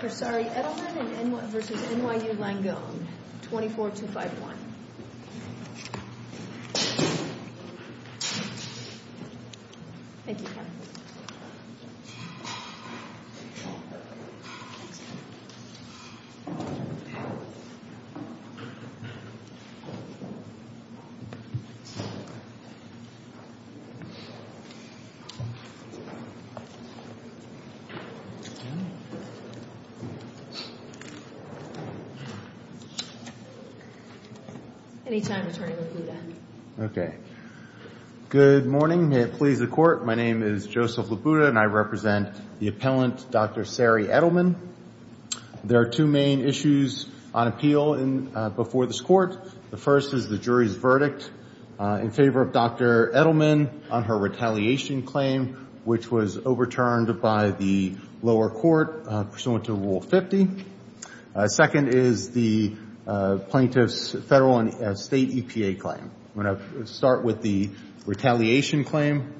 Dr. Sari Edelman v. NYU Langone, 24251 Good morning. May it please the court, my name is Joseph Labuda and I represent the appellant Dr. Sari Edelman. There are two main issues on appeal before this court. The first is the jury's verdict in favor of Dr. Edelman on her retaliation claim, which was overturned by the lower court pursuant to Rule 50. Second is the plaintiff's federal and state EPA claim. I'm going to start with the retaliation claim.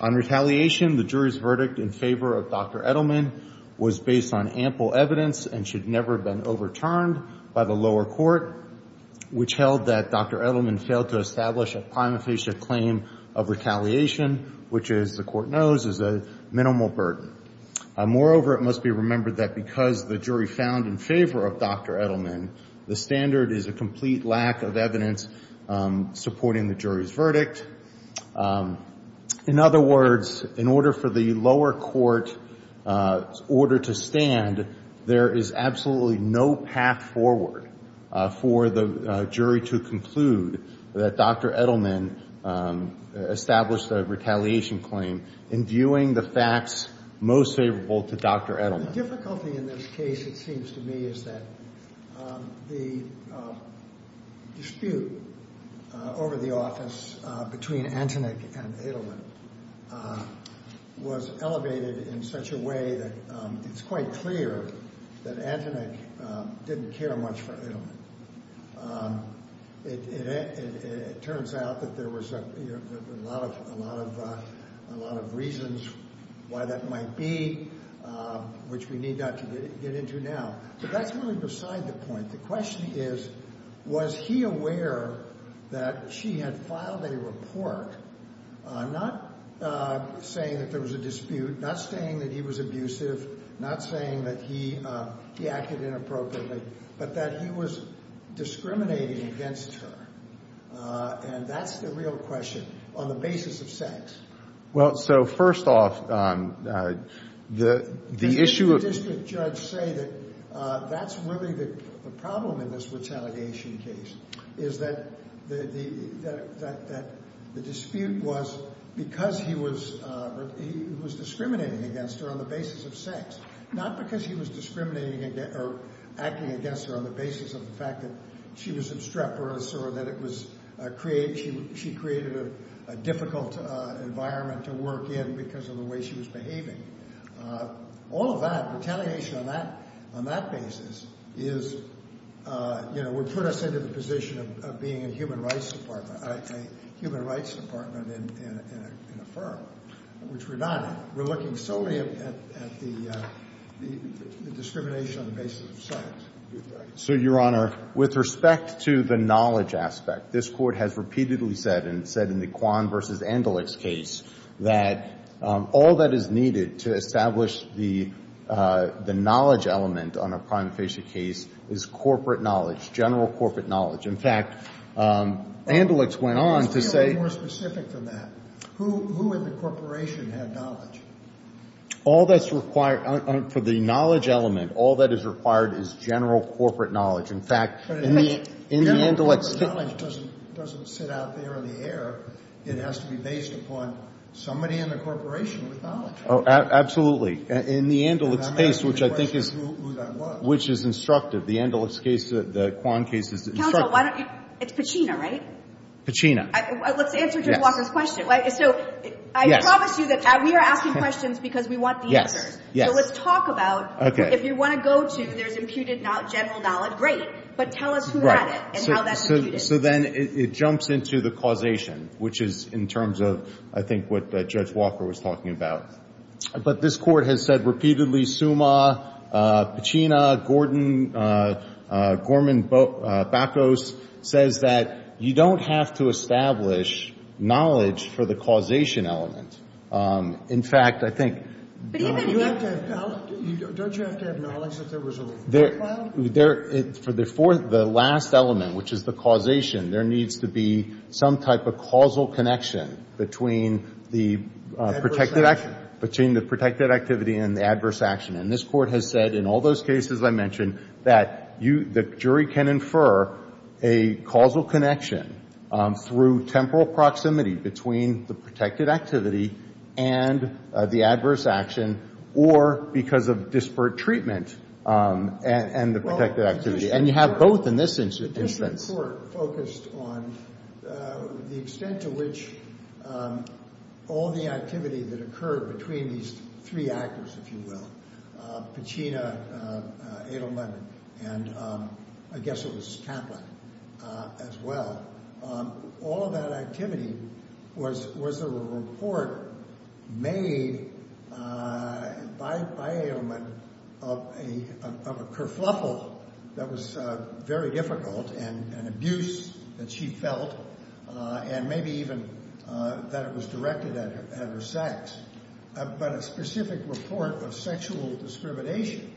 On retaliation, the jury's verdict in favor of Dr. Edelman was based on ample evidence and should never have been overturned by the lower court, which held that Dr. Edelman failed to establish a prima facie claim of retaliation, which as the court knows is a minimal burden. Moreover, it must be remembered that because the jury found in favor of Dr. Edelman, the standard is a complete lack of evidence supporting the jury's verdict. In other words, in order for the lower court order to stand, there is absolutely no path forward for the jury to conclude that Dr. Edelman established a retaliation claim in viewing the facts most favorable to Dr. Edelman. The difficulty in this case, it seems to me, is that the dispute over the office between Antonick and Edelman was elevated in such a way that it's quite clear that Antonick didn't care much for Edelman. It turns out that there was a lot of reasons why that might be, which we need not to get into now. But that's really beside the point. The question is, was he aware that she had filed a report not saying that there was a dispute, not saying that he was abusive, not saying that he acted inappropriately, but that he was discriminating against her? And that's the real question on the basis of sex. Well, so first off, the issue of Didn't the district judge say that that's really the problem in this retaliation case, is that the dispute was because he was discriminating against her on the basis of sex, not because he was discriminating or acting against her on the basis of the fact that she was obstreperous or that she created a difficult environment to work in because of the way she was behaving. All of that, retaliation on that basis, is, you know, would put us into the position of being a human rights department, a human rights department in a firm, which we're not. We're looking solely at the discrimination on the basis of sex. So, Your Honor, with respect to the knowledge aspect, this Court has repeatedly said, and it said in the Kwan v. Andelix case, that all that is needed to establish the knowledge element on a prime facie case is corporate knowledge, general corporate knowledge. In fact, Andelix went on to say Let's be a little more specific than that. Who in the corporation had knowledge? All that's required for the knowledge element, all that is required is general corporate knowledge. In fact, in the Andelix General corporate knowledge doesn't sit out there in the air. It has to be based upon somebody in the corporation with knowledge. Oh, absolutely. In the Andelix case, which I think is instructive. The Andelix case, the Kwan case is instructive. Counsel, it's Pacino, right? Pacino. Let's answer Judge Walker's question. So, I promise you that we are asking questions because we want the answers. Yes, yes. So let's talk about, if you want to go to, there's imputed general knowledge, great, but tell us who had it and how that's imputed. So then it jumps into the causation, which is in terms of, I think, what Judge Walker was talking about. But this Court has said repeatedly, Summa, Pacino, Gordon, Gorman-Bacos says that you don't have to establish knowledge for the causation element. In fact, I think But even Don't you have to have knowledge if there was a law file? For the last element, which is the causation, there needs to be some type of causal connection between the protected activity and the adverse action. And this Court has said in all those cases I mentioned that the jury can infer a causal connection through temporal proximity between the protected activity and the adverse action or because of disparate treatment. And the protected activity. And you have both in this instance. This Court focused on the extent to which all the activity that occurred between these three actors, if you will, Pacino, Edelman, and I guess it was Kaplan as well. All of that activity was a report made by Edelman of a kerfuffle that was very difficult and abuse that she felt and maybe even that it was directed at her sex. But a specific report of sexual discrimination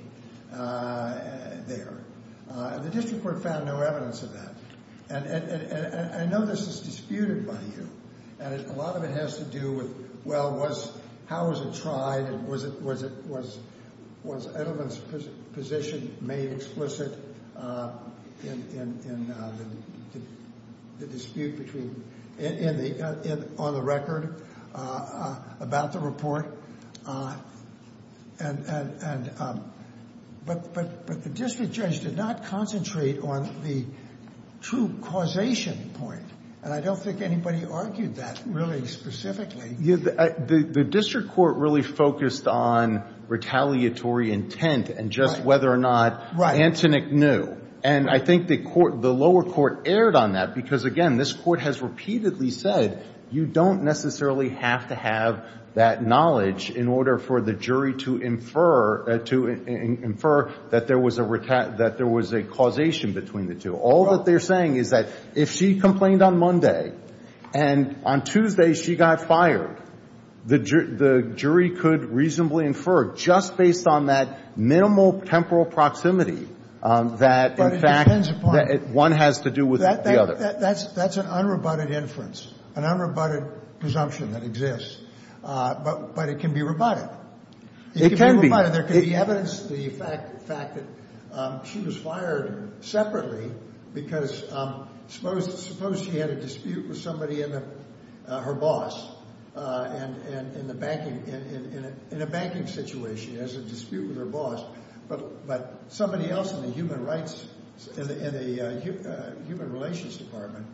there. And the district court found no evidence of that. And I know this is disputed by you. And a lot of it has to do with, well, was, how was it tried? And was it was it was was Edelman's position made explicit in the dispute between in the on the record about the report? And but but but the district judge did not concentrate on the true causation point. And I don't think anybody argued that really specifically. The district court really focused on retaliatory intent and just whether or not Antoinette knew. And I think the court the lower court erred on that, because, again, this court has repeatedly said you don't necessarily have to have that knowledge in order for the jury to infer to infer that there was a that there was a causation between the two. All that they're saying is that if she complained on Monday and on Tuesday she got fired, the jury could reasonably infer just based on that minimal temporal proximity that one has to do with that. That's that's an unroboted inference, an unroboted presumption that exists. But but it can be rebutted. It can be. There can be evidence. The fact the fact that she was fired separately because suppose suppose she had a dispute with somebody in her boss and in the banking in a banking situation as a dispute with her boss. But but somebody else in the human rights and the human relations department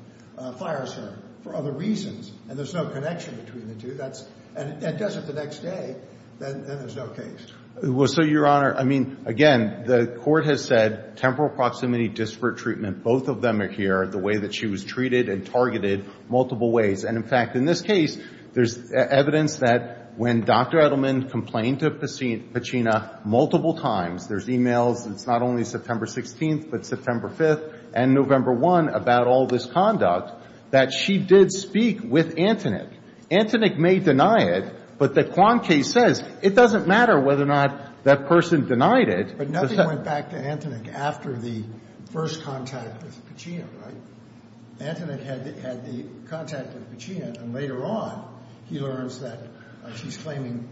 fires her for other reasons. And there's no connection between the two. That's and it doesn't the next day. Then there's no case. So, Your Honor, I mean, again, the court has said temporal proximity, disparate treatment. Both of them are here the way that she was treated and targeted multiple ways. And in fact, in this case, there's evidence that when Dr. Edelman complained to Pachino multiple times, there's e-mails. It's not only September 16th, but September 5th and November 1 about all this conduct that she did speak with Antonin. Antonin may deny it, but the Quan case says it doesn't matter whether or not that person denied it. But nothing went back to Antonin after the first contact with Pachino, right? Antonin had had the contact with Pachino. And later on, he learns that she's claiming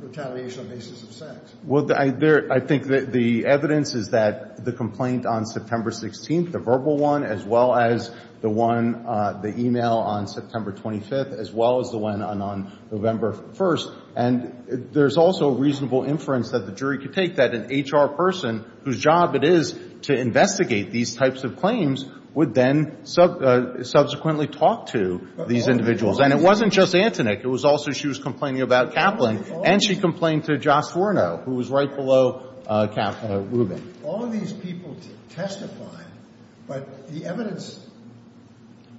retaliation on basis of sex. Well, I think the evidence is that the complaint on September 16th, the verbal one, as well as the one, the e-mail on September 25th, as well as the one on November 1st. And there's also a reasonable inference that the jury could take that an HR person, whose job it is to investigate these types of claims, would then subsequently talk to these individuals. And it wasn't just Antonin. It was also she was complaining about Kaplan. And she complained to Jos Forno, who was right below Rubin. All of these people testified, but the evidence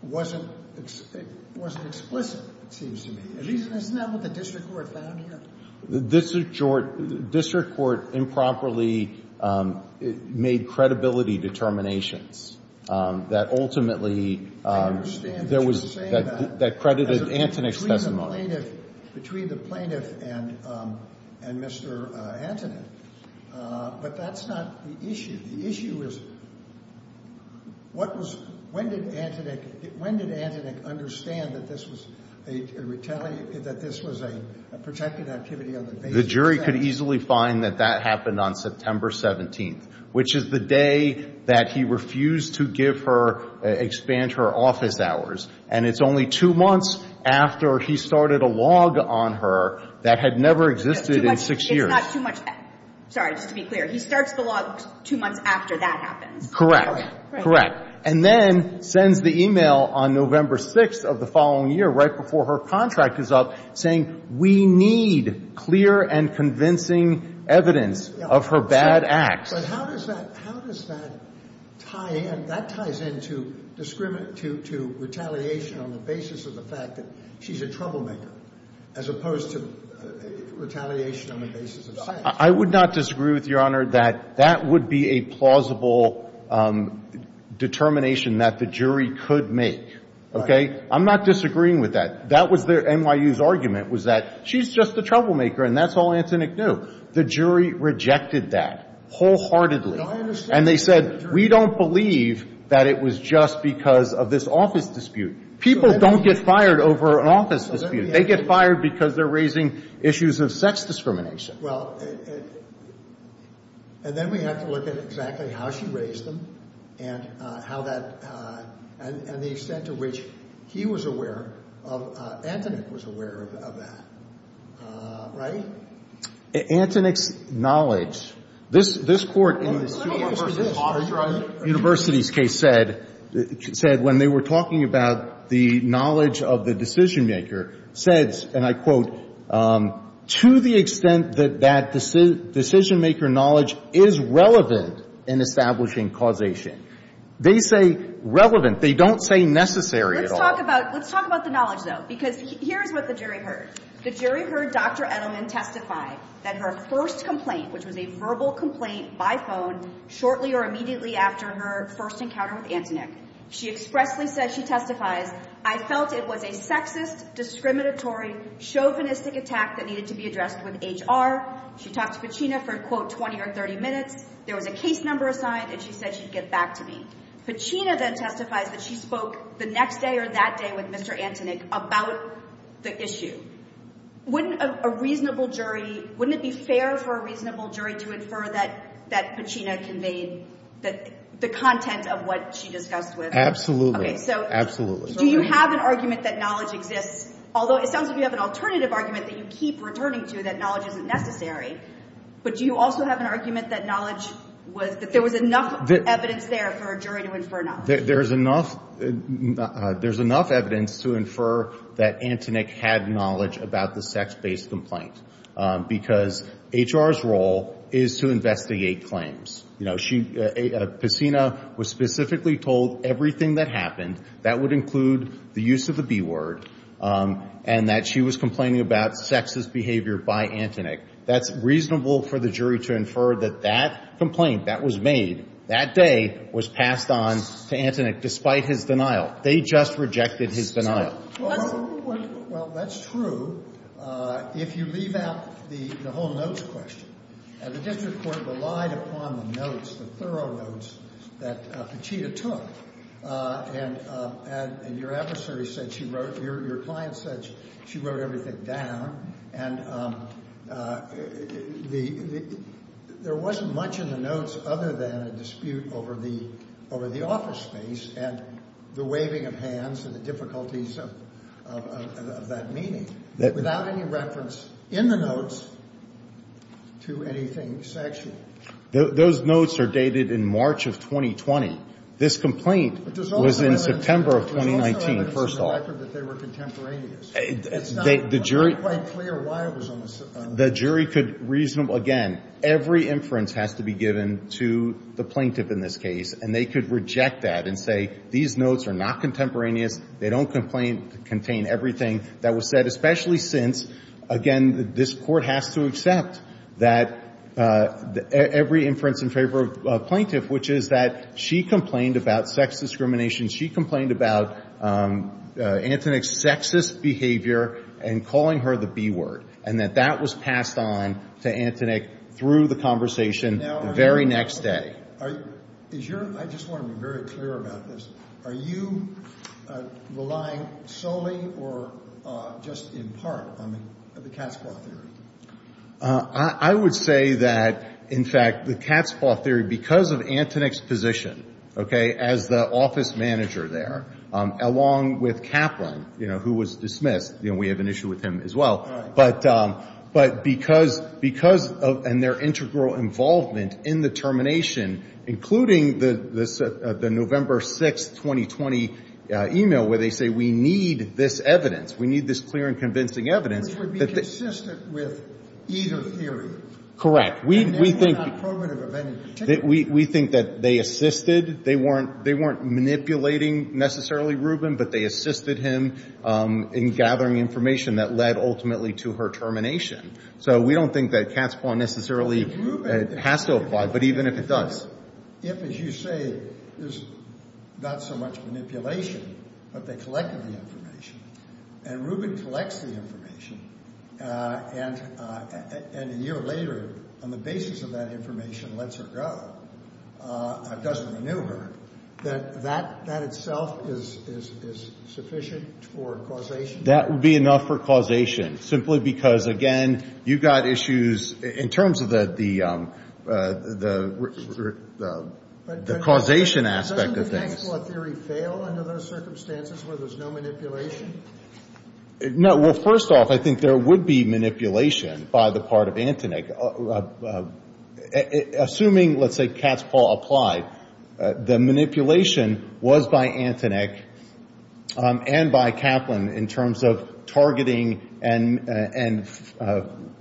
wasn't explicit, it seems to me. Isn't that what the district court found here? The district court improperly made credibility determinations that ultimately there was that credited Antonin's testimony. Between the plaintiff and Mr. Antonin. But that's not the issue. The issue is when did Antonin understand that this was a protected activity on the basis of sex? The jury could easily find that that happened on September 17th, which is the day that he refused to give her, expand her office hours. And it's only two months after he started a log on her that had never existed in six years. Sorry, just to be clear. He starts the log two months after that happens. Correct. Correct. And then sends the e-mail on November 6th of the following year, right before her contract is up, saying we need clear and convincing evidence of her bad acts. But how does that tie in? To retaliation on the basis of the fact that she's a troublemaker, as opposed to retaliation on the basis of sex. I would not disagree with Your Honor that that would be a plausible determination that the jury could make. Okay. I'm not disagreeing with that. That was NYU's argument, was that she's just a troublemaker and that's all Antonin knew. The jury rejected that wholeheartedly. And they said we don't believe that it was just because of this office dispute. People don't get fired over an office dispute. They get fired because they're raising issues of sex discrimination. Well, and then we have to look at exactly how she raised them and how that, and the extent to which he was aware of, Antonin was aware of that. Right? Antonin's knowledge. This Court in this University's case said, when they were talking about the knowledge of the decisionmaker, says, and I quote, to the extent that that decisionmaker knowledge is relevant in establishing causation. They say relevant. They don't say necessary at all. Let's talk about the knowledge, though, because here's what the jury heard. The jury heard Dr. Edelman testify that her first complaint, which was a verbal complaint by phone, shortly or immediately after her first encounter with Antonin, she expressly said she testifies, I felt it was a sexist, discriminatory, chauvinistic attack that needed to be addressed with HR. She talked to Pacina for, quote, 20 or 30 minutes. There was a case number assigned, and she said she'd get back to me. Pacina then testifies that she spoke the next day or that day with Mr. Antonin about the issue. Wouldn't a reasonable jury, wouldn't it be fair for a reasonable jury to infer that Pacina conveyed the content of what she discussed with her? Absolutely. Absolutely. Do you have an argument that knowledge exists, although it sounds like you have an alternative argument that you keep returning to, that knowledge isn't necessary. But do you also have an argument that knowledge was, that there was enough evidence there for a jury to infer knowledge? There's enough evidence to infer that Antonin had knowledge about the sex-based complaint, because HR's role is to investigate claims. Pacina was specifically told everything that happened, that would include the use of the B word, and that she was complaining about sexist behavior by Antonin. That's reasonable for the jury to infer that that complaint that was made that day was passed on to Antonin, despite his denial. They just rejected his denial. Well, that's true. If you leave out the whole notes question, the district court relied upon the notes, the thorough notes that Pacina took. And your adversary said she wrote, your client said she wrote everything down. And there wasn't much in the notes other than a dispute over the office space and the waving of hands and the difficulties of that meeting, without any reference in the notes to anything sexual. Those notes are dated in March of 2020. This complaint was in September of 2019, first of all. But there's also evidence in the record that they were contemporaneous. It's not quite clear why it was on the site. The jury could reasonably – again, every inference has to be given to the plaintiff in this case, and they could reject that and say these notes are not contemporaneous, they don't contain everything that was said, especially since, again, this Court has to accept that every inference in favor of a plaintiff, which is that she complained about sex discrimination, she complained about Antonick's sexist behavior and calling her the B word, and that that was passed on to Antonick through the conversation the very next day. Now, I just want to be very clear about this. Are you relying solely or just in part on the cat's claw theory? I would say that, in fact, the cat's claw theory, because of Antonick's position, okay, as the office manager there, along with Kaplan, you know, who was dismissed. You know, we have an issue with him as well. But because of – and their integral involvement in the termination, including the November 6, 2020, email where they say we need this evidence, we need this clear and convincing evidence that the – Which would be consistent with either theory. Correct. We think – And they were not programmative of any particular – We think that they assisted. They weren't manipulating, necessarily, Rubin, but they assisted him in gathering information that led ultimately to her termination. So we don't think that cat's claw necessarily has to apply, but even if it does. If, as you say, there's not so much manipulation, but they collected the information, and Rubin collects the information, and a year later, on the basis of that information, lets her go, doesn't renew her, that that itself is sufficient for causation? That would be enough for causation, simply because, again, you've got issues. In terms of the causation aspect of things. Doesn't the cat's claw theory fail under those circumstances where there's no manipulation? No. Well, first off, I think there would be manipulation by the part of Antonek. Assuming, let's say, cat's claw applied, the manipulation was by Antonek and by Kaplan in terms of targeting and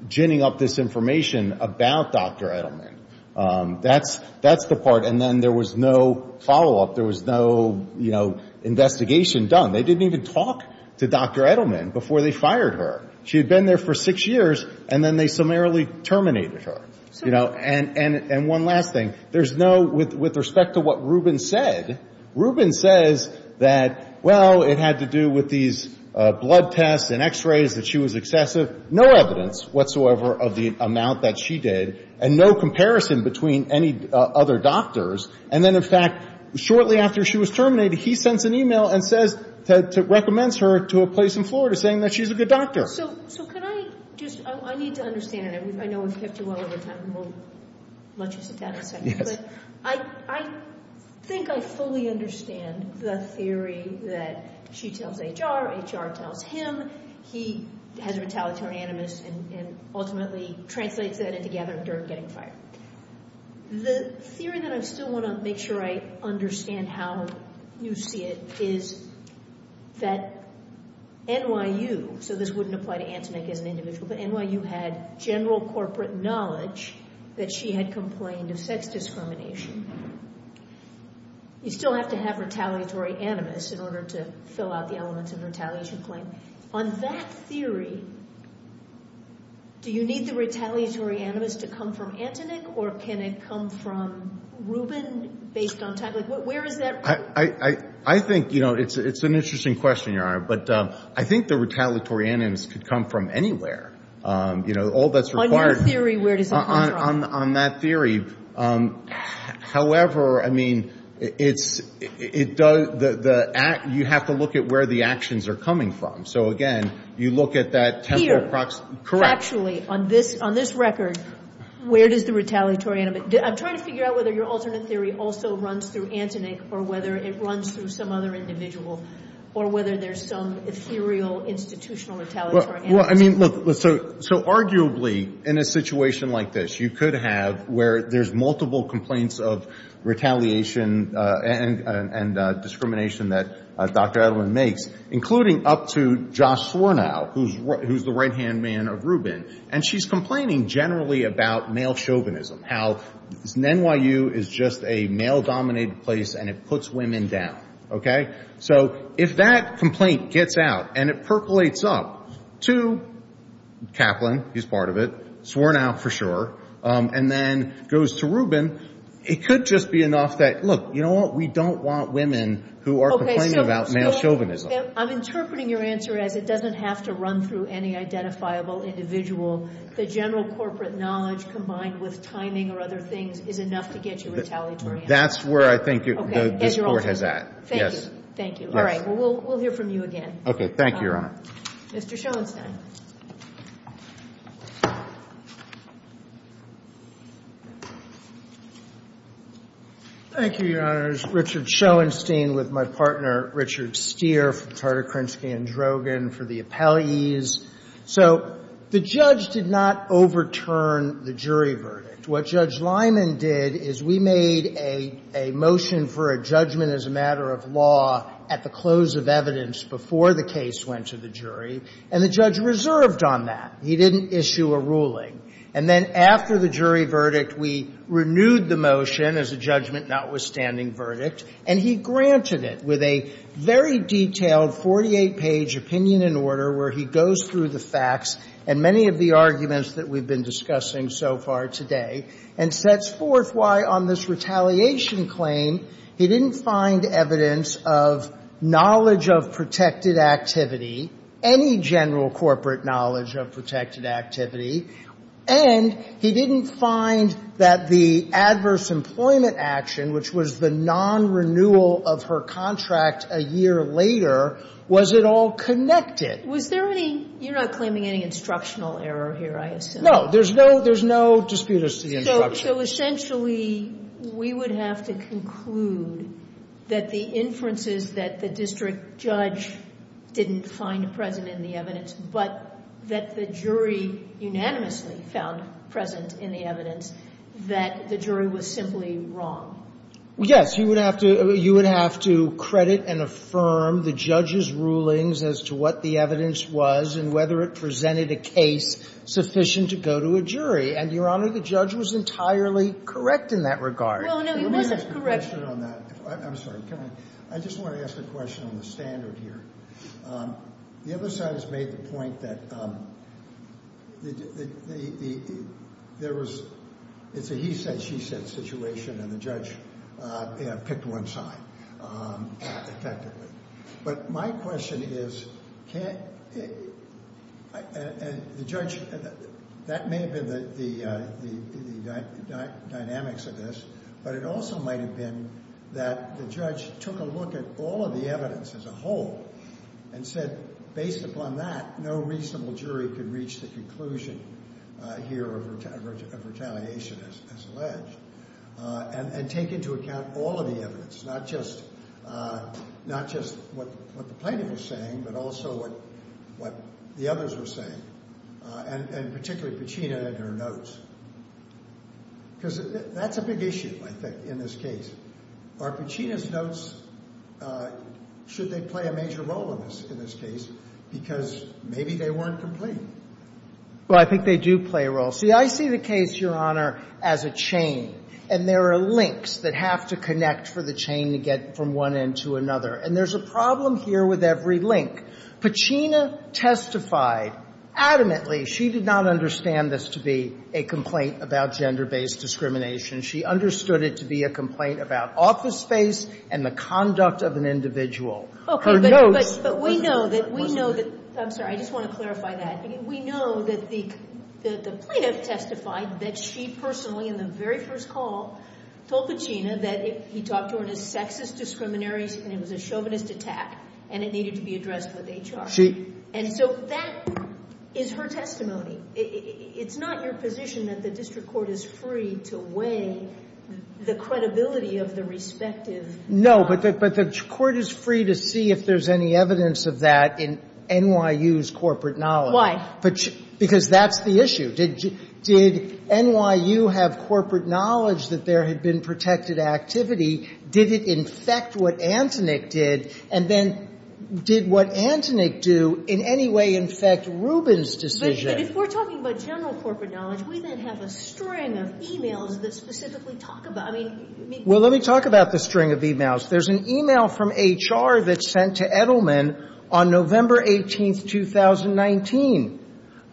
ginning up this information about Dr. Edelman. That's the part. And then there was no follow-up. There was no investigation done. They didn't even talk to Dr. Edelman before they fired her. She had been there for six years, and then they summarily terminated her. And one last thing. There's no, with respect to what Rubin said, Rubin says that, well, it had to do with these blood tests and x-rays, that she was excessive. No evidence whatsoever of the amount that she did. And no comparison between any other doctors. And then, in fact, shortly after she was terminated, he sends an e-mail and says, recommends her to a place in Florida saying that she's a good doctor. So can I just, I need to understand, and I know we've kept you well over time, and we'll let you sit down for a second. Yes. I think I fully understand the theory that she tells HR, HR tells him, he has a retaliatory animus and ultimately translates that into gathering dirt and getting fired. The theory that I still want to make sure I understand how you see it is that NYU, so this wouldn't apply to Antoinette as an individual, but NYU had general corporate knowledge that she had complained of sex discrimination. You still have to have retaliatory animus in order to fill out the elements of retaliation claim. On that theory, do you need the retaliatory animus to come from Antonick, or can it come from Rubin based on time? Like, where is that? I think, you know, it's an interesting question, Your Honor, but I think the retaliatory animus could come from anywhere. You know, all that's required. On your theory, where does it come from? On that theory. However, I mean, you have to look at where the actions are coming from. So, again, you look at that temporal proximity. Correct. Actually, on this record, where does the retaliatory animus, I'm trying to figure out whether your alternate theory also runs through Antonick or whether it runs through some other individual, or whether there's some ethereal institutional retaliatory animus. Well, I mean, look, so arguably, in a situation like this, you could have where there's multiple complaints of retaliation and discrimination that Dr. Edelman makes, including up to Josh Swernow, who's the right-hand man of Rubin, and she's complaining generally about male chauvinism, how NYU is just a male-dominated place and it puts women down. Okay? So if that complaint gets out and it percolates up to Kaplan, he's part of it, Swernow for sure, and then goes to Rubin, it could just be enough that, look, you know what? We don't want women who are complaining about male chauvinism. I'm interpreting your answer as it doesn't have to run through any identifiable individual. The general corporate knowledge combined with timing or other things is enough to get you retaliatory animus. That's where I think this Court has at. Thank you. Thank you. All right. Well, we'll hear from you again. Okay. Thank you, Your Honor. Mr. Schoenstein. Thank you, Your Honors. Richard Schoenstein with my partner Richard Steer from Tartikrinsky and Drogen for the appellees. So the judge did not overturn the jury verdict. What Judge Lyman did is we made a motion for a judgment as a matter of law at the close of evidence before the case went to the jury, and the judge reserved on that. He didn't issue a ruling. And then after the jury verdict, we renewed the motion as a judgment notwithstanding verdict, and he granted it with a very detailed 48-page opinion and order where he goes through the facts and many of the arguments that we've been discussing so far today and sets forth why on this retaliation claim he didn't find evidence of knowledge of protected activity, any general corporate knowledge of protected activity, and he didn't find that the adverse employment action, which was the non-renewal of her contract a year later, was at all connected. Was there any – you're not claiming any instructional error here, I assume. No. There's no – there's no disputers to the instruction. So essentially, we would have to conclude that the inferences that the district judge didn't find present in the evidence, but that the jury unanimously found present in the evidence, that the jury was simply wrong. Yes. You would have to – you would have to credit and affirm the judge's rulings as to what the evidence was and whether it presented a case sufficient to go to a jury. And, Your Honor, the judge was entirely correct in that regard. Well, no, he wasn't correct. Let me ask a question on that. I'm sorry. Can I – I just want to ask a question on the standard here. The other side has made the point that there was – it's a he-said-she-said situation and the judge picked one side effectively. But my question is, can't – and the judge – that may have been the dynamics of this, but it also might have been that the judge took a look at all of the evidence as a whole and said, based upon that, no reasonable jury could reach the conclusion here of retaliation as alleged, and take into account all of the evidence, not just – not just what the plaintiff was saying, but also what the others were saying, and particularly Pacina and her notes. Because that's a big issue, I think, in this case. Are Pacina's notes – should they play a major role in this case? Because maybe they weren't complete. Well, I think they do play a role. See, I see the case, Your Honor, as a chain, and there are links that have to connect for the chain to get from one end to another. And there's a problem here with every link. Pacina testified adamantly she did not understand this to be a complaint about gender-based discrimination. She understood it to be a complaint about office space and the conduct of an individual. Her notes – But we know that – we know that – I'm sorry. I just want to clarify that. We know that the plaintiff testified that she personally, in the very first call, told Pacina that he talked to her in a sexist, discriminatory – and it was a chauvinist attack, and it needed to be addressed with HR. And so that is her testimony. It's not your position that the district court is free to weigh the credibility of the respective – No, but the court is free to see if there's any evidence of that in NYU's corporate knowledge. Why? Because that's the issue. Did NYU have corporate knowledge that there had been protected activity? Did it infect what Antonick did? And then did what Antonick do in any way infect Rubin's decision? But if we're talking about general corporate knowledge, we then have a string of e-mails that specifically talk about – I mean – Well, let me talk about the string of e-mails. There's an e-mail from HR that's sent to Edelman on November 18th, 2019.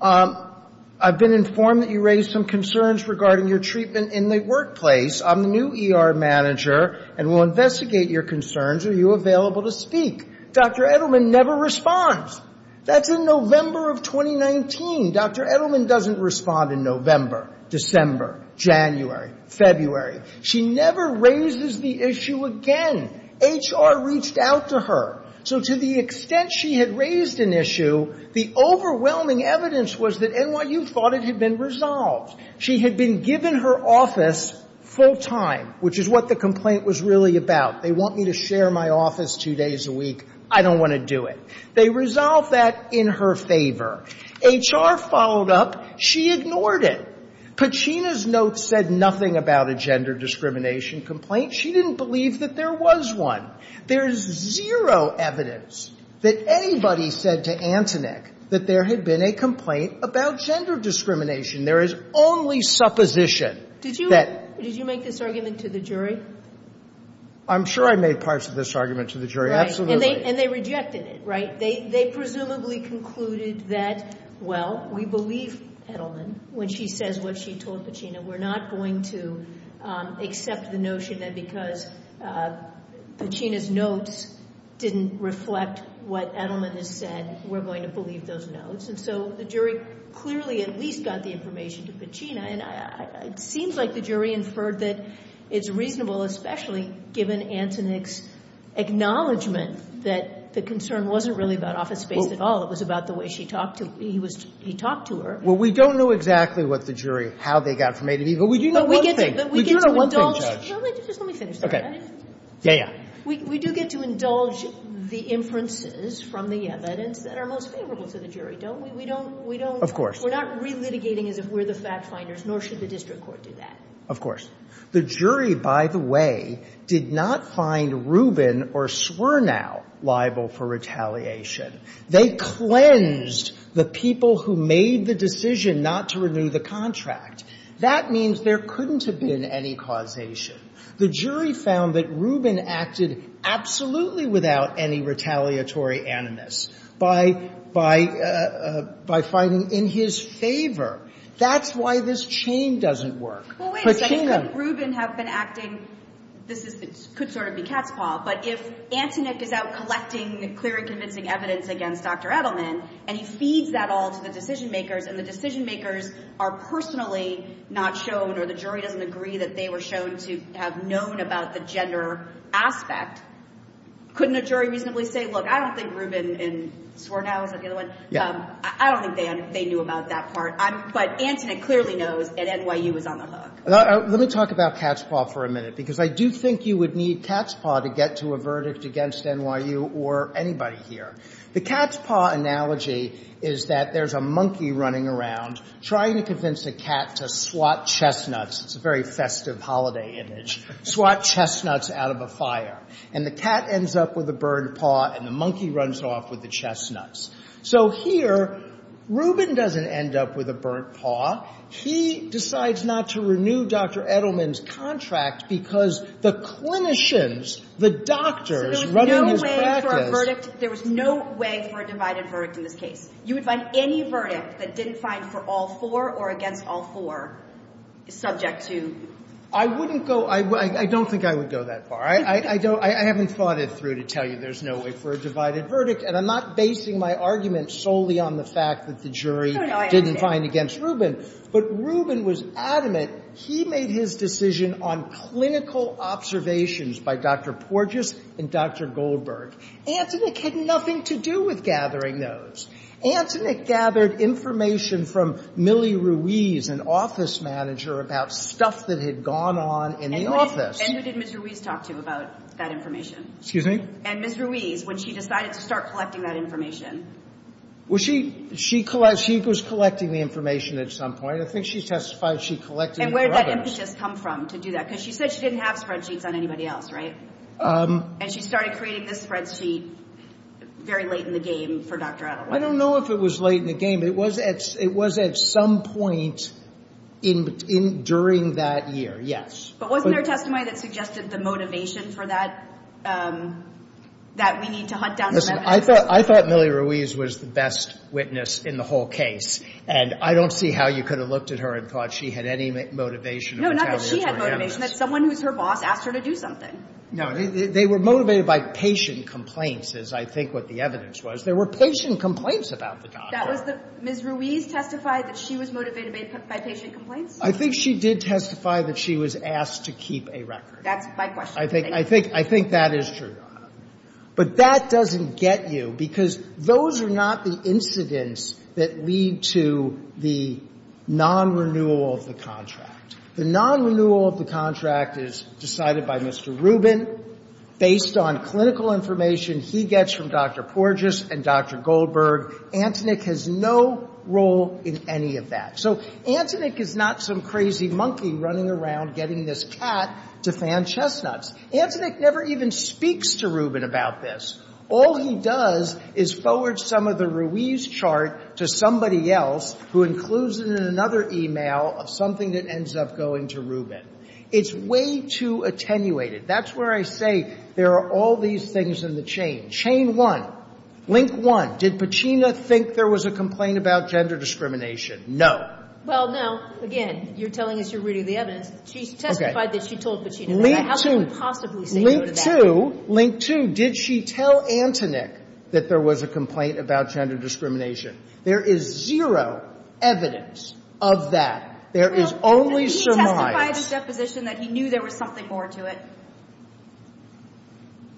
I've been informed that you raised some concerns regarding your treatment in the workplace. I'm the new ER manager and will investigate your concerns. Are you available to speak? Dr. Edelman never responds. That's in November of 2019. Dr. Edelman doesn't respond in November, December, January, February. She never raises the issue again. HR reached out to her. So to the extent she had raised an issue, the overwhelming evidence was that NYU thought it had been resolved. She had been given her office full time, which is what the complaint was really about. They want me to share my office two days a week. I don't want to do it. They resolved that in her favor. HR followed up. She ignored it. Pachina's notes said nothing about a gender discrimination complaint. She didn't believe that there was one. There is zero evidence that anybody said to Antonick that there had been a complaint about gender discrimination. There is only supposition that ---- Did you make this argument to the jury? I'm sure I made parts of this argument to the jury. Absolutely. And they rejected it, right? They presumably concluded that, well, we believe Edelman when she says what she told Pachina. We're not going to accept the notion that because Pachina's notes didn't reflect what Edelman has said, we're going to believe those notes. And so the jury clearly at least got the information to Pachina. And it seems like the jury inferred that it's reasonable, especially given Antonick's acknowledgment that the concern wasn't really about office space at all. It was about the way he talked to her. Well, we don't know exactly what the jury, how they got from A to B. But we do know one thing. We do know one thing, Judge. Just let me finish. Okay. Yeah, yeah. We do get to indulge the inferences from the evidence that are most favorable to the jury, don't we? We don't. Of course. We're not relitigating as if we're the fact finders, nor should the district court do that. Of course. The jury, by the way, did not find Rubin or Swernow liable for retaliation. They cleansed the people who made the decision not to renew the contract. That means there couldn't have been any causation. The jury found that Rubin acted absolutely without any retaliatory animus by finding in his favor. That's why this chain doesn't work. Well, wait a second. Couldn't Rubin have been acting? This could sort of be cat's paw. But if Antonick is out collecting clear and convincing evidence against Dr. Edelman, and he feeds that all to the decision makers, and the decision makers are personally not shown or the jury doesn't agree that they were shown to have known about the gender aspect, couldn't a jury reasonably say, look, I don't think Rubin and Swernow, is that the other one? Yeah. I don't think they knew about that part. But Antonick clearly knows, and NYU is on the hook. Let me talk about cat's paw for a minute, because I do think you would need cat's paw to get to a verdict against NYU or anybody here. The cat's paw analogy is that there's a monkey running around trying to convince a cat to swat chestnuts. It's a very festive holiday image. Swat chestnuts out of a fire. And the cat ends up with a burned paw, and the monkey runs off with the chestnuts. So here Rubin doesn't end up with a burnt paw. He decides not to renew Dr. Edelman's contract because the clinicians, the doctors running his practice So there's no way for a verdict, there was no way for a divided verdict in this case. You would find any verdict that didn't find for all four or against all four subject to I wouldn't go, I don't think I would go that far. I don't, I haven't thought it through to tell you there's no way for a divided verdict, and I'm not basing my argument solely on the fact that the jury didn't find against Rubin. But Rubin was adamant. He made his decision on clinical observations by Dr. Porges and Dr. Goldberg. Antonick had nothing to do with gathering those. Antonick gathered information from Millie Ruiz, an office manager, about stuff that had gone on in the office. And who did Ms. Ruiz talk to about that information? Excuse me? And Ms. Ruiz, when she decided to start collecting that information? Well, she collected, she was collecting the information at some point. I think she testified she collected the rubbers. And where did that impetus come from to do that? Because she said she didn't have spreadsheets on anybody else, right? And she started creating this spreadsheet very late in the game for Dr. Edelman. I don't know if it was late in the game. It was at some point during that year, yes. But wasn't there a testimony that suggested the motivation for that, that we need to hunt down some evidence? Listen, I thought Millie Ruiz was the best witness in the whole case. And I don't see how you could have looked at her and thought she had any motivation of retaliation. No, not that she had motivation. That's someone who's her boss asked her to do something. No, they were motivated by patient complaints, is I think what the evidence was. There were patient complaints about the doctor. That was the, Ms. Ruiz testified that she was motivated by patient complaints? I think she did testify that she was asked to keep a record. That's my question. I think that is true. But that doesn't get you, because those are not the incidents that lead to the non-renewal of the contract. The non-renewal of the contract is decided by Mr. Rubin based on clinical information he gets from Dr. Porges and Dr. Goldberg. Antonick has no role in any of that. So Antonick is not some crazy monkey running around getting this cat to fan chestnuts. Antonick never even speaks to Rubin about this. All he does is forward some of the Ruiz chart to somebody else who includes it in another e-mail of something that ends up going to Rubin. It's way too attenuated. That's where I say there are all these things in the chain. Chain one, link one, did Pacina think there was a complaint about gender discrimination? No. Well, no. Again, you're telling us you're reading the evidence. She testified that she told Pacina that. How can you possibly say no to that? Link two, link two, did she tell Antonick that there was a complaint about gender discrimination? There is zero evidence of that. There is only surmise. Well, did he testify at his deposition that he knew there was something more to it?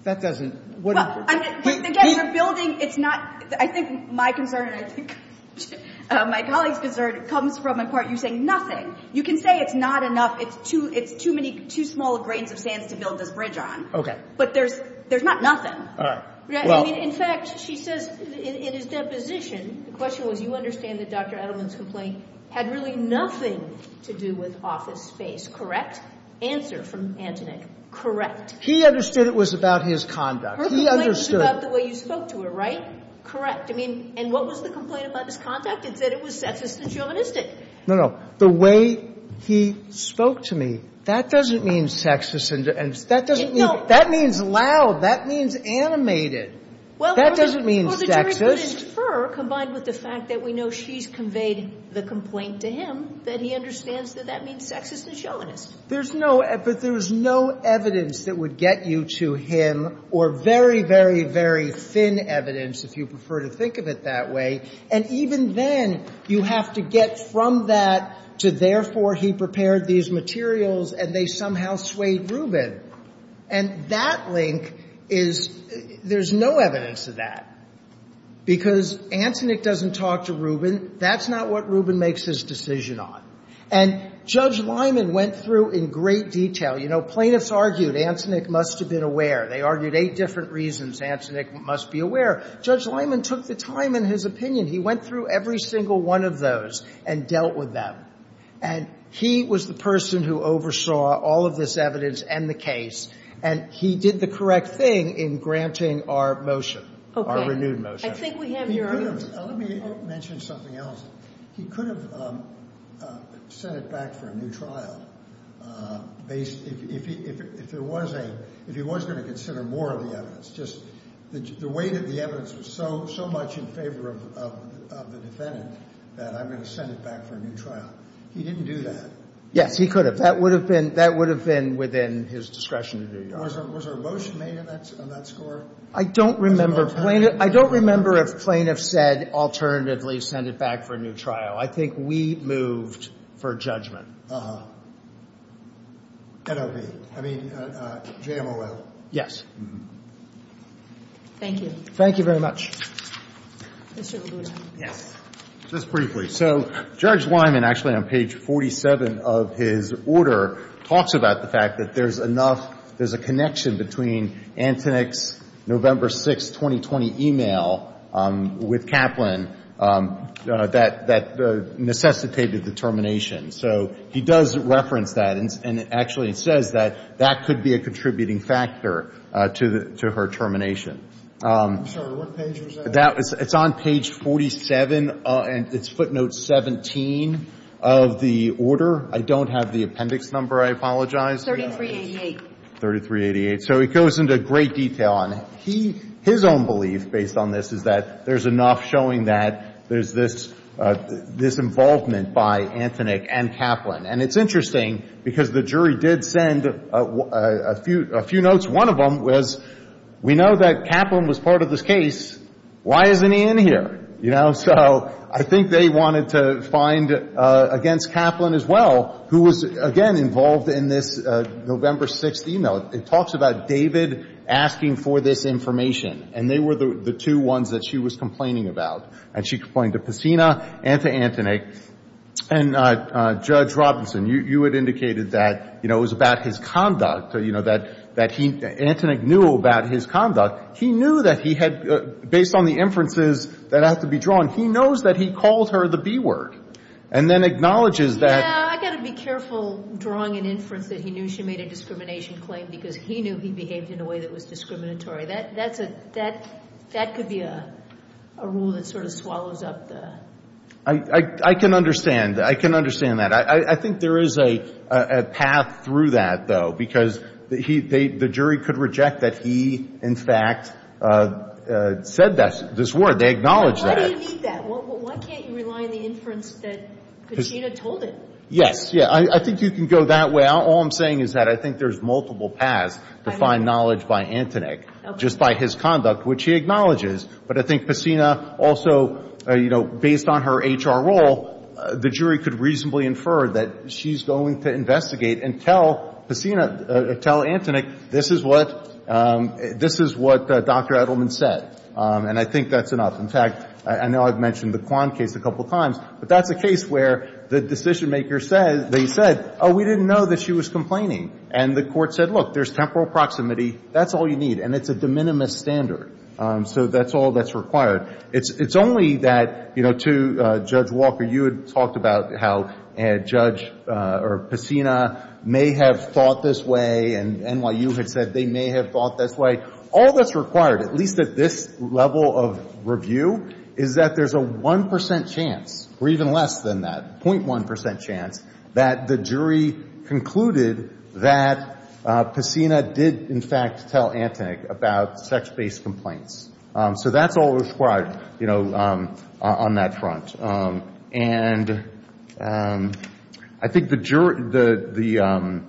That doesn't — Well, again, you're building — it's not — I think my concern and I think my colleague's concern comes from a part of you saying nothing. You can say it's not enough, it's too many — too small grains of sand to build this bridge on. Okay. But there's not nothing. All right. Well — In fact, she says in his deposition, the question was you understand that Dr. Edelman's complaint had really nothing to do with office space, correct? Answer from Antonick, correct. He understood it was about his conduct. Her complaint was about the way you spoke to her, right? Correct. I mean, and what was the complaint about his conduct? It said it was sexist and chauvinistic. No, no. The way he spoke to me, that doesn't mean sexist and — that doesn't mean — No. That means loud. That means animated. That doesn't mean sexist. Well, the jury could infer, combined with the fact that we know she's conveyed the complaint to him, that he understands that that means sexist and chauvinist. There's no — but there's no evidence that would get you to him, or very, very, very thin evidence, if you prefer to think of it that way. And even then, you have to get from that to, therefore, he prepared these materials and they somehow swayed Rubin. And that link is — there's no evidence of that, because Antonick doesn't talk to Rubin. That's not what Rubin makes his decision on. And Judge Lyman went through in great detail. You know, plaintiffs argued Antonick must have been aware. They argued eight different reasons Antonick must be aware. Judge Lyman took the time in his opinion. He went through every single one of those and dealt with them. And he was the person who oversaw all of this evidence and the case, and he did the correct thing in granting our motion, our renewed motion. I think we have your argument. Let me mention something else. He could have sent it back for a new trial if he was going to consider more of the evidence. Just the weight of the evidence was so much in favor of the defendant that I'm going to send it back for a new trial. He didn't do that. Yes, he could have. That would have been within his discretion to do. Was there a motion made on that score? I don't remember. I don't remember if plaintiffs said alternatively send it back for a new trial. I think we moved for judgment. Uh-huh. N.O.B. I mean, J.M.O.L. Yes. Thank you. Thank you very much. Mr. LaGuardia. Yes. Just briefly. So Judge Lyman, actually on page 47 of his order, talks about the fact that there's enough there's a connection between Antonick's November 6, 2020, email with Kaplan that necessitated the termination. So he does reference that, and actually it says that that could be a contributing factor to her termination. I'm sorry. What page was that? It's on page 47, and it's footnote 17 of the order. I don't have the appendix number. I apologize. 3388. 3388. So it goes into great detail on it. His own belief, based on this, is that there's enough showing that there's this involvement by Antonick and Kaplan. And it's interesting because the jury did send a few notes. One of them was, we know that Kaplan was part of this case. Why isn't he in here? So I think they wanted to find against Kaplan as well, who was, again, involved in this November 6 email. It talks about David asking for this information. And they were the two ones that she was complaining about. And she complained to Pessina and to Antonick. And, Judge Robinson, you had indicated that it was about his conduct, that Antonick knew about his conduct. He knew that he had, based on the inferences that have to be drawn, he knows that he called her the B word, and then acknowledges that. Yeah, I've got to be careful drawing an inference that he knew she made a discrimination claim because he knew he behaved in a way that was discriminatory. That could be a rule that sort of swallows up the. I can understand. I can understand that. I think there is a path through that, though, because the jury could reject that he, in fact, said this word. They acknowledged that. Why do you need that? Why can't you rely on the inference that Pessina told it? Yes. Yeah, I think you can go that way. All I'm saying is that I think there's multiple paths to find knowledge by Antonick, just by his conduct, which he acknowledges. But I think Pessina also, you know, based on her H.R. role, the jury could reasonably infer that she's going to investigate and tell Pessina, tell Antonick, this is what Dr. Edelman said. And I think that's enough. In fact, I know I've mentioned the Quan case a couple of times, but that's a case where the decisionmaker said, they said, oh, we didn't know that she was complaining. And the Court said, look, there's temporal proximity. That's all you need. And it's a de minimis standard. So that's all that's required. It's only that, you know, to Judge Walker, you had talked about how Judge Pessina may have thought this way, and NYU had said they may have thought this way. All that's required, at least at this level of review, is that there's a 1% chance, or even less than that, 0.1% chance, that the jury concluded that Pessina did, in fact, tell Antonick about sex-based complaints. So that's all required, you know, on that front. And I think the jury, the,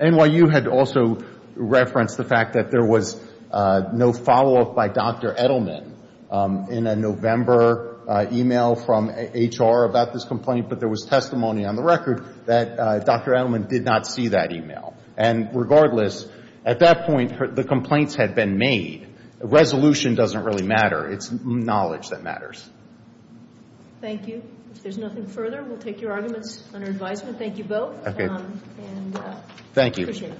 NYU had also referenced the fact that there was no follow-up by Dr. Edelman in a November email from HR about this complaint. But there was testimony on the record that Dr. Edelman did not see that email. And regardless, at that point, the complaints had been made. Resolution doesn't really matter. It's knowledge that matters. Thank you. If there's nothing further, we'll take your arguments under advisement. Thank you both. And appreciate it. Thank you.